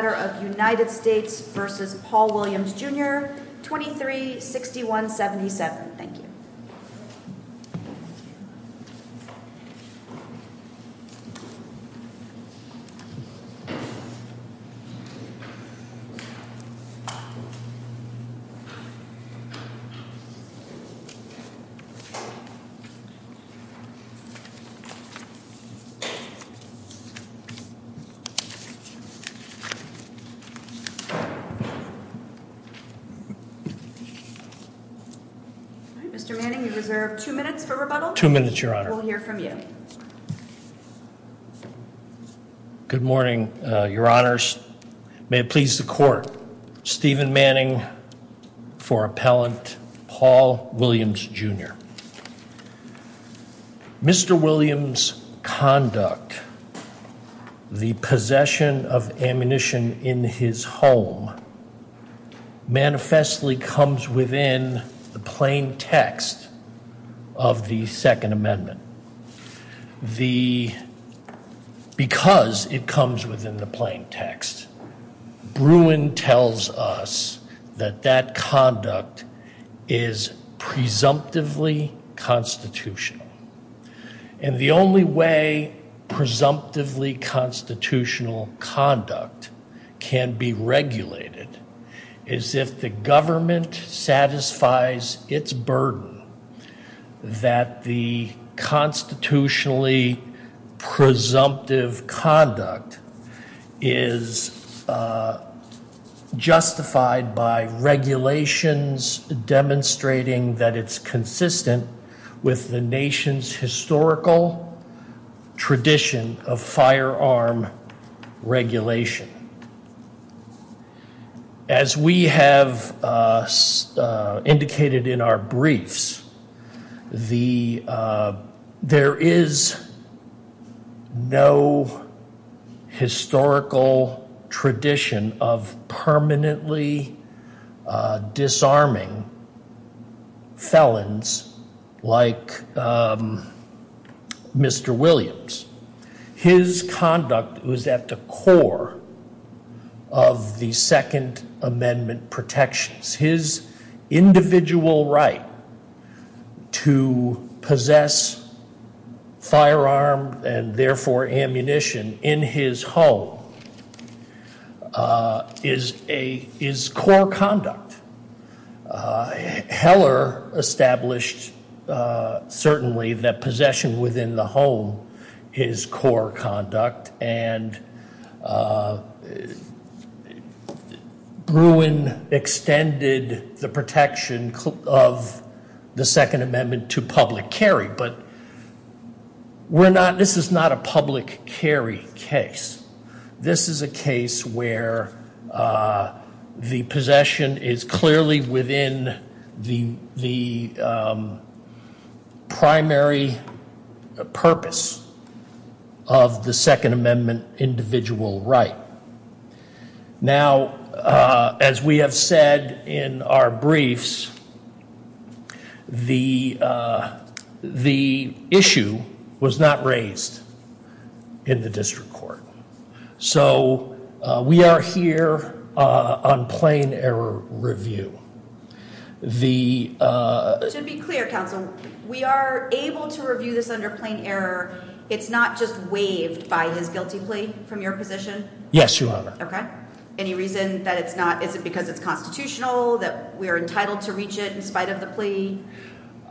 Jr., 236177. Thank you. Mr. Manning, you reserve two minutes for rebuttal. Two minutes, Your Honor. We'll hear from you. Good morning, Your Honors. May it please the Court, Stephen Manning for Appellant Paul Williams Jr. Mr. Williams' conduct, the possession of ammunition in his home, manifestly comes within the plain text of the Second Amendment. Because it comes within the plain text, Bruin tells us that that conduct is presumptively constitutional. And the only way presumptively constitutional conduct can be regulated is if the government satisfies its burden that the constitutionally presumptive conduct is justified by regulations demonstrating that it's consistent with the nation's historical tradition of firearm regulation. As we have indicated in our briefs, there is no historical tradition of permanently disarming felons like Mr. Williams. His conduct was at the core of the Second Amendment protections. His individual right to possess firearm and therefore ammunition in his home is core conduct. Heller established certainly that possession within the home is core conduct. And Bruin extended the protection of the Second Amendment to public carry. But we're not, this is not a public carry case. This is a case where the possession is clearly within the primary purpose of the Second Amendment individual right. Now, as we have said in our briefs, the issue was not raised in the district court. So we are here on plain error review. To be clear, counsel, we are able to review this under plain error. It's not just waived by his guilty plea from your position? Yes, Your Honor. Okay. Any reason that it's not? Is it because it's constitutional that we are entitled to reach it in spite of the plea?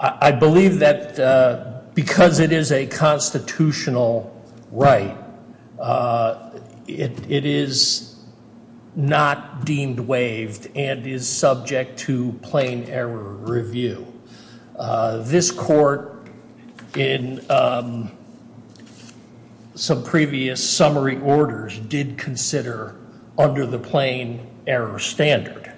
I believe that because it is a constitutional right, it is not deemed waived and is subject to plain error review. This court in some previous summary orders did consider under the plain error standard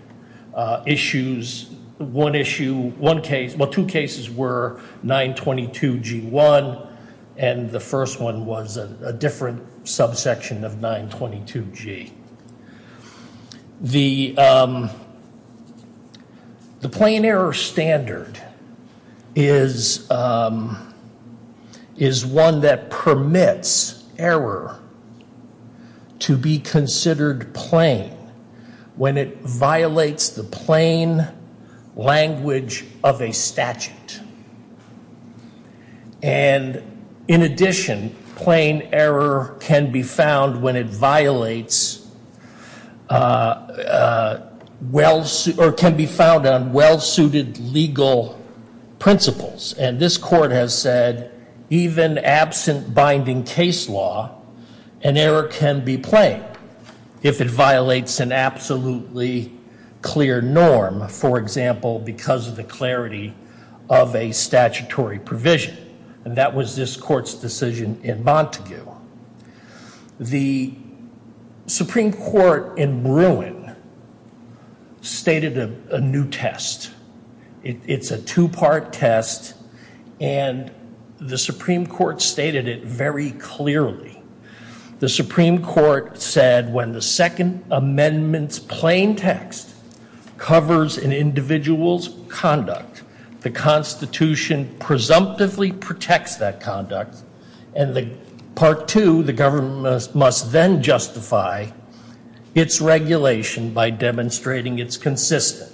issues. One issue, one case, well two cases were 922 G1 and the first one was a different subsection of 922 G. The plain error standard is one that permits error to be considered plain when it violates the plain language of a statute. And in addition, plain error can be found when it violates, or can be found on well-suited legal principles. And this court has said even absent binding case law, an error can be plain if it violates an absolutely clear norm. For example, because of the clarity of a statutory provision. And that was this court's decision in Montague. The Supreme Court in Bruin stated a new test. It's a two-part test and the Supreme Court stated it very clearly. The Supreme Court said when the Second Amendment's plain text covers an individual's conduct, the Constitution presumptively protects that conduct. And part two, the government must then justify its regulation by demonstrating it's consistent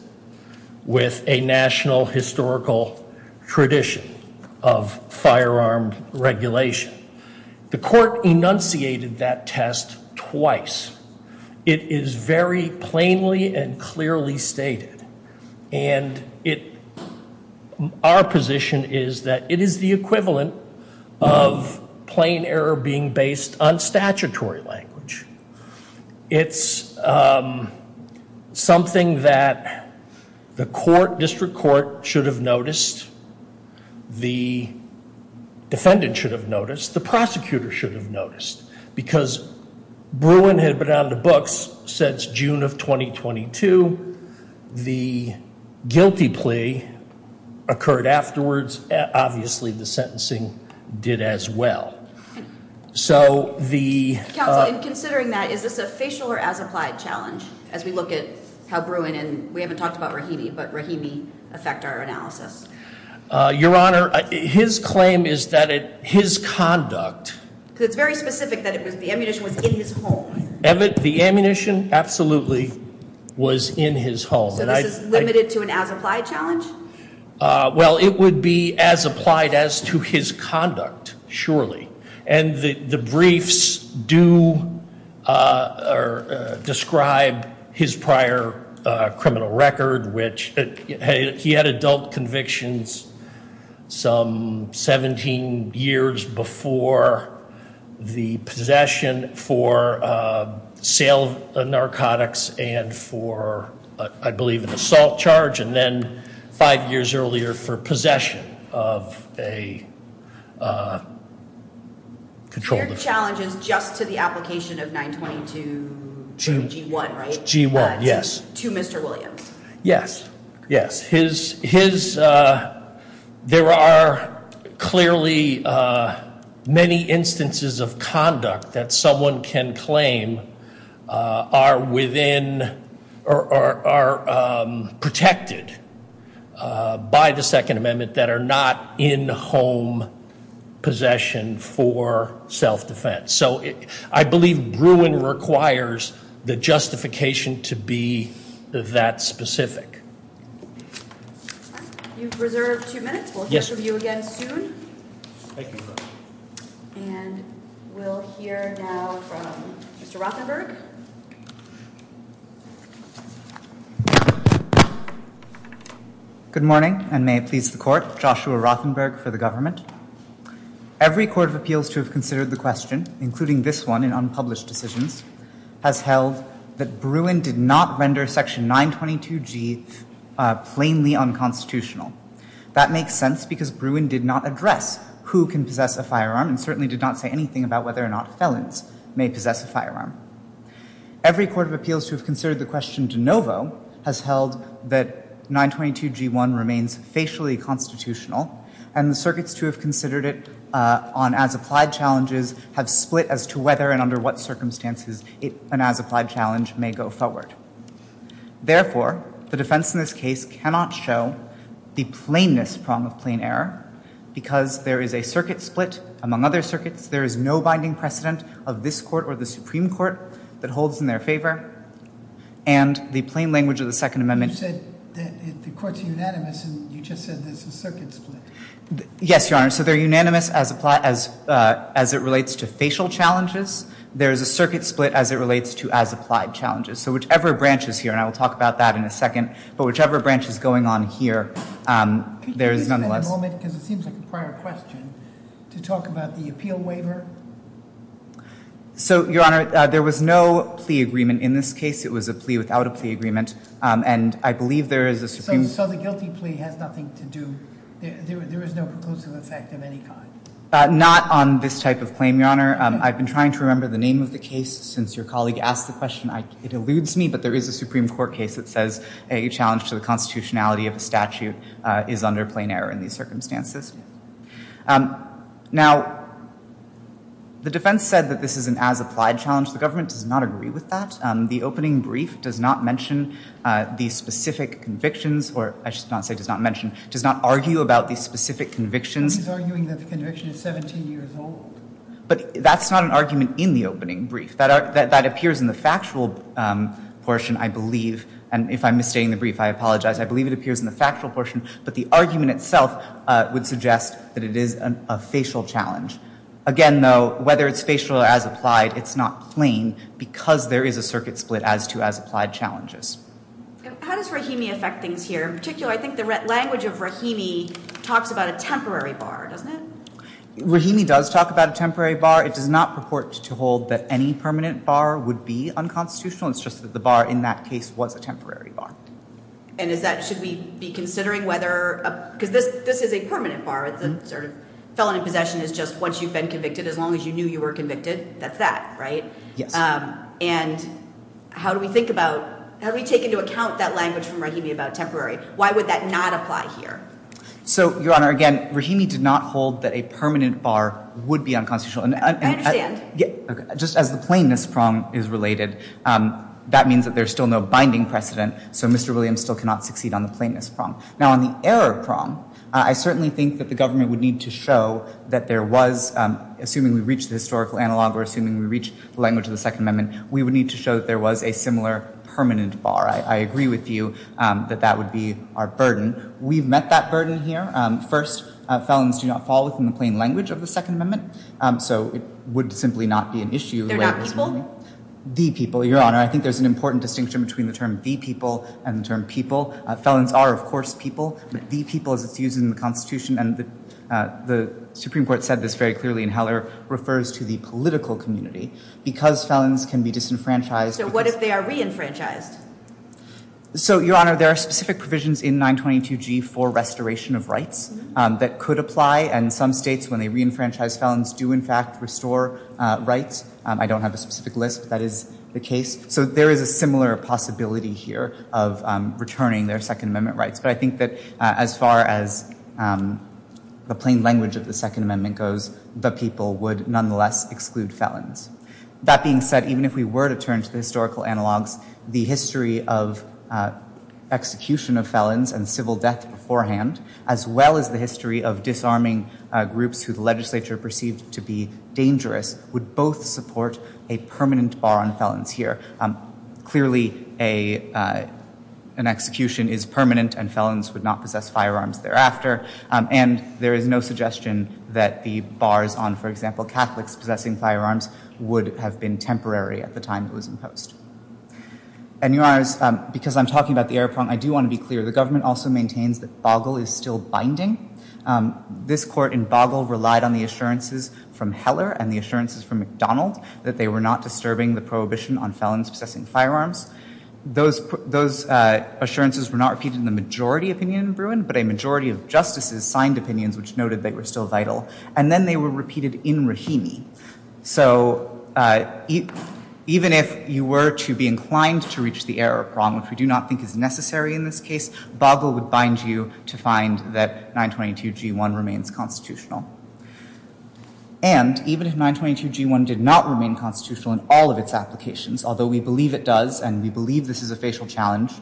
with a national historical tradition of firearm regulation. The court enunciated that test twice. It is very plainly and clearly stated. And it, our position is that it is the equivalent of plain error being based on statutory language. It's something that the court, district court, should have noticed. The defendant should have noticed. The prosecutor should have noticed. Because Bruin had been out of the books since June of 2022. The guilty plea occurred afterwards. Obviously the sentencing did as well. Counsel, in considering that, is this a facial or as-applied challenge as we look at how Bruin and, we haven't talked about Rahimi, but Rahimi affect our analysis? Your Honor, his claim is that his conduct. Because it's very specific that the ammunition was in his home. The ammunition absolutely was in his home. So this is limited to an as-applied challenge? Well, it would be as applied as to his conduct, surely. And the briefs do describe his prior criminal record, which he had adult convictions some 17 years before the possession for sale of narcotics and for, I believe an assault charge. And then five years earlier for possession of a controlled drug. So your challenge is just to the application of 922 G1, right? G1, yes. To Mr. Williams. Yes, yes. His, there are clearly many instances of conduct that someone can claim are within or are protected by the Second Amendment that are not in home possession for self-defense. So I believe Bruin requires the justification to be that specific. You've reserved two minutes. We'll hear from you again soon. Thank you, Your Honor. And we'll hear now from Mr. Rothenberg. Good morning, and may it please the Court, Joshua Rothenberg for the government. Every court of appeals to have considered the question, including this one in unpublished decisions, has held that Bruin did not render section 922 G plainly unconstitutional. That makes sense because Bruin did not address who can possess a firearm and certainly did not say anything about whether or not felons may possess a firearm. Every court of appeals to have considered the question de novo has held that 922 G1 remains facially constitutional, and the circuits to have considered it on as-applied challenges have split as to whether and under what circumstances an as-applied challenge may go forward. Therefore, the defense in this case cannot show the plainness prong of plain error because there is a circuit split among other circuits. There is no binding precedent of this Court or the Supreme Court that holds in their favor, and the plain language of the Second Amendment— You said the courts are unanimous, and you just said there's a circuit split. Yes, Your Honor. So they're unanimous as it relates to facial challenges. There is a circuit split as it relates to as-applied challenges. So whichever branch is here, and I will talk about that in a second, but whichever branch is going on here, there is nonetheless— Could you give us a moment, because it seems like a prior question, to talk about the appeal waiver? So, Your Honor, there was no plea agreement in this case. It was a plea without a plea agreement, and I believe there is a Supreme— So the guilty plea has nothing to do—there is no preclusive effect of any kind? Not on this type of claim, Your Honor. I've been trying to remember the name of the case since your colleague asked the question. It eludes me, but there is a Supreme Court case that says a challenge to the constitutionality of a statute is under plain error in these circumstances. Now, the defense said that this is an as-applied challenge. The government does not agree with that. The opening brief does not mention these specific convictions, or I should not say does not mention, does not argue about these specific convictions. He's arguing that the conviction is 17 years old. But that's not an argument in the opening brief. That appears in the factual portion, I believe, and if I'm misstating the brief, I apologize. I believe it appears in the factual portion, but the argument itself would suggest that it is a facial challenge. Again, though, whether it's facial or as-applied, it's not plain, because there is a circuit split as to as-applied challenges. How does Rahimi affect things here? In particular, I think the language of Rahimi talks about a temporary bar, doesn't it? Rahimi does talk about a temporary bar. It does not purport to hold that any permanent bar would be unconstitutional. It's just that the bar in that case was a temporary bar. And is that, should we be considering whether, because this is a permanent bar. It's a sort of felony possession is just once you've been convicted, as long as you knew you were convicted, that's that, right? Yes. And how do we think about, how do we take into account that language from Rahimi about temporary? Why would that not apply here? So, Your Honor, again, Rahimi did not hold that a permanent bar would be unconstitutional. I understand. Just as the plainness prong is related, that means that there's still no binding precedent, so Mr. Williams still cannot succeed on the plainness prong. Now, on the error prong, I certainly think that the government would need to show that there was, assuming we reach the historical analog or assuming we reach the language of the Second Amendment, we would need to show that there was a similar permanent bar. I agree with you that that would be our burden. We've met that burden here. First, felons do not fall within the plain language of the Second Amendment, so it would simply not be an issue. They're not people? The people, Your Honor. I think there's an important distinction between the term the people and the term people. Felons are, of course, people. The people, as it's used in the Constitution, and the Supreme Court said this very clearly in Heller, refers to the political community. Because felons can be disenfranchised. So what if they are re-enfranchised? So, Your Honor, there are specific provisions in 922G for restoration of rights that could apply, and some states, when they re-enfranchise felons, do, in fact, restore rights. I don't have a specific list, but that is the case. So there is a similar possibility here of returning their Second Amendment rights. But I think that as far as the plain language of the Second Amendment goes, the people would nonetheless exclude felons. That being said, even if we were to turn to the historical analogs, the history of execution of felons and civil death beforehand, as well as the history of disarming groups who the legislature perceived to be dangerous, would both support a permanent bar on felons here. Clearly, an execution is permanent, and felons would not possess firearms thereafter. And there is no suggestion that the bars on, for example, Catholics possessing firearms, would have been temporary at the time it was imposed. And, Your Honors, because I'm talking about the error problem, I do want to be clear. The government also maintains that Bagel is still binding. This court in Bagel relied on the assurances from Heller and the assurances from McDonald that they were not disturbing the prohibition on felons possessing firearms. Those assurances were not repeated in the majority opinion in Bruin, but a majority of justices signed opinions which noted they were still vital. And then they were repeated in Rahimi. So even if you were to be inclined to reach the error problem, which we do not think is necessary in this case, Bagel would bind you to find that 922g1 remains constitutional. And even if 922g1 did not remain constitutional in all of its applications, although we believe it does, and we believe this is a facial challenge,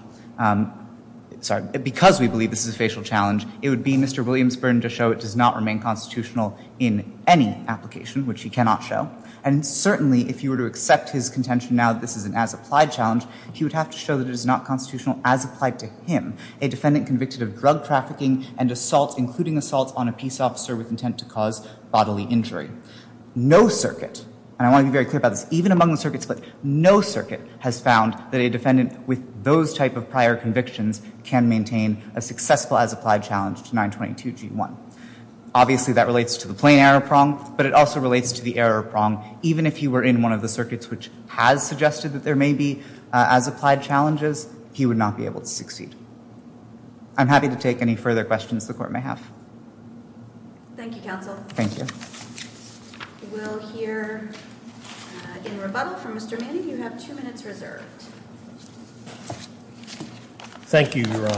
sorry, because we believe this is a facial challenge, it would be Mr. Williams' burden to show it does not remain constitutional in any application, which he cannot show. And certainly, if you were to accept his contention now that this is an as-applied challenge, he would have to show that it is not constitutional as applied to him, a defendant convicted of drug trafficking and assault, including assault on a peace officer with intent to cause bodily injury. No circuit, and I want to be very clear about this, even among the circuit split, no circuit has found that a defendant with those type of prior convictions can maintain a successful as-applied challenge to 922g1. Obviously, that relates to the plain error prong, but it also relates to the error prong. Even if he were in one of the circuits which has suggested that there may be as-applied challenges, he would not be able to succeed. I'm happy to take any further questions the court may have. Thank you, counsel. Thank you. We'll hear a rebuttal from Mr. Manning. You have two minutes reserved. Thank you, Your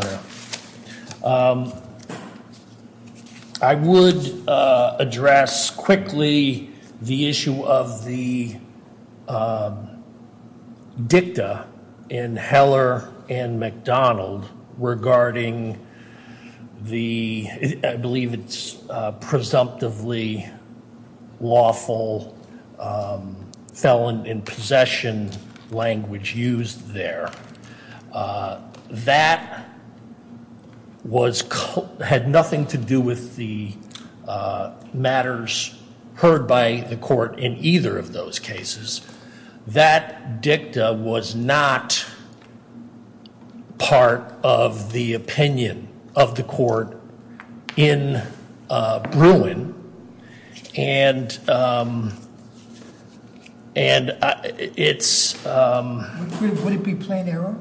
Honor. I would address quickly the issue of the dicta in Heller and McDonald regarding the, I believe it's presumptively lawful felon in possession language used there. That had nothing to do with the matters heard by the court in either of those cases. That dicta was not part of the opinion of the court in Bruin. Would it be plain error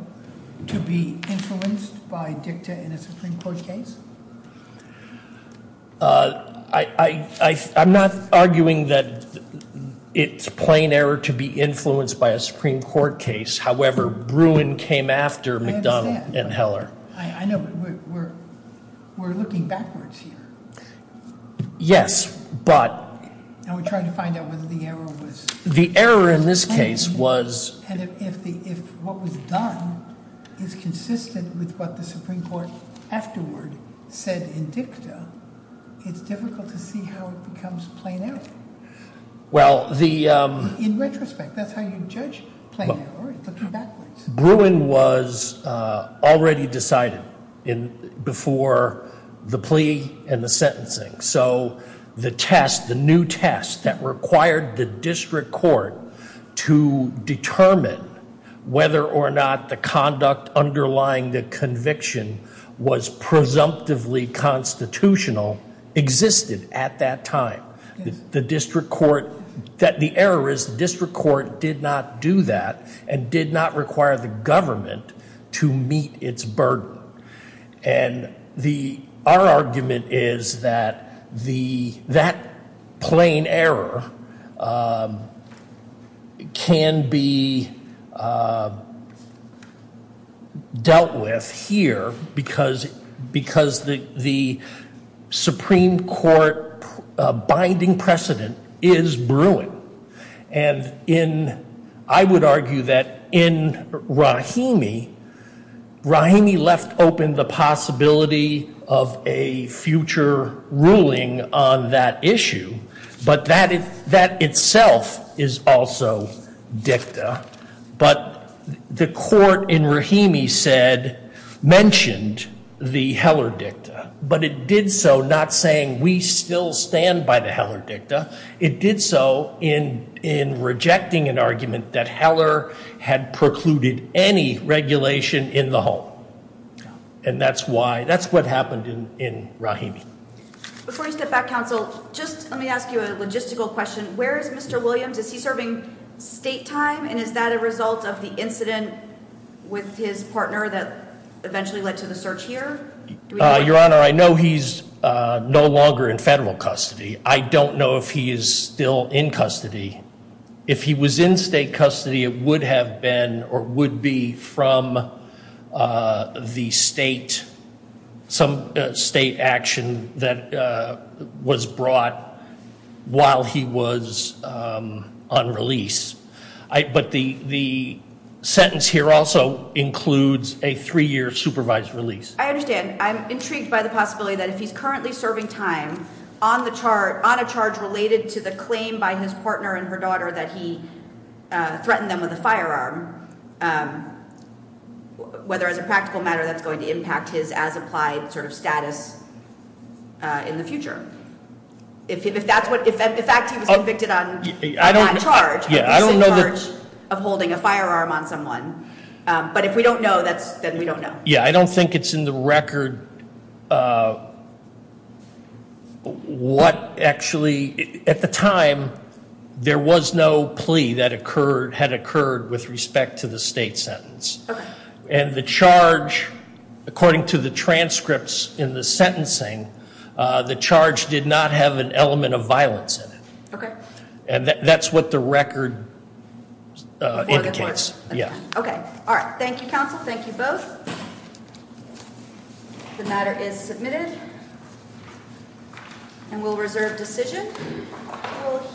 to be influenced by dicta in a Supreme Court case? I'm not arguing that it's plain error to be influenced by a Supreme Court case. However, Bruin came after McDonald and Heller. I know, but we're looking backwards here. Yes, but... And we're trying to find out whether the error was... The error in this case was... And if what was done is consistent with what the Supreme Court afterward said in dicta, it's difficult to see how it becomes plain error. Well, the... In retrospect, that's how you judge plain error, looking backwards. Bruin was already decided before the plea and the sentencing, so the test, the new test that required the district court to determine whether or not the conduct underlying the conviction was presumptively constitutional existed at that time. The district court... The error is the district court did not do that and did not require the government to meet its burden. Our argument is that that plain error can be dealt with here because the Supreme Court binding precedent is Bruin. And in... I would argue that in Rahimi, Rahimi left open the possibility of a future ruling on that issue, but that itself is also dicta. But the court in Rahimi said, mentioned the Heller dicta, but it did so not saying we still stand by the Heller dicta. It did so in rejecting an argument that Heller had precluded any regulation in the home. And that's why... That's what happened in Rahimi. Before you step back, counsel, just let me ask you a logistical question. Where is Mr. Williams? Is he serving state time and is that a result of the incident with his partner that eventually led to the search here? Your Honor, I know he's no longer in federal custody. I don't know if he is still in custody. If he was in state custody, it would have been or would be from the state, some state action that was brought while he was on release. But the sentence here also includes a three-year supervised release. I understand. I'm intrigued by the possibility that if he's currently serving time on a charge related to the claim by his partner and her daughter that he threatened them with a firearm, whether as a practical matter that's going to impact his as-applied sort of status in the future. If that's what... If the fact he was convicted on charge, he's in charge of holding a firearm on someone. But if we don't know, then we don't know. Yeah, I don't think it's in the record what actually... At the time, there was no plea that had occurred with respect to the state sentence. Okay. And the charge, according to the transcripts in the sentencing, the charge did not have an element of violence in it. And that's what the record indicates. Okay. All right. Thank you, counsel. Thank you both. The matter is submitted. And we'll reserve decision.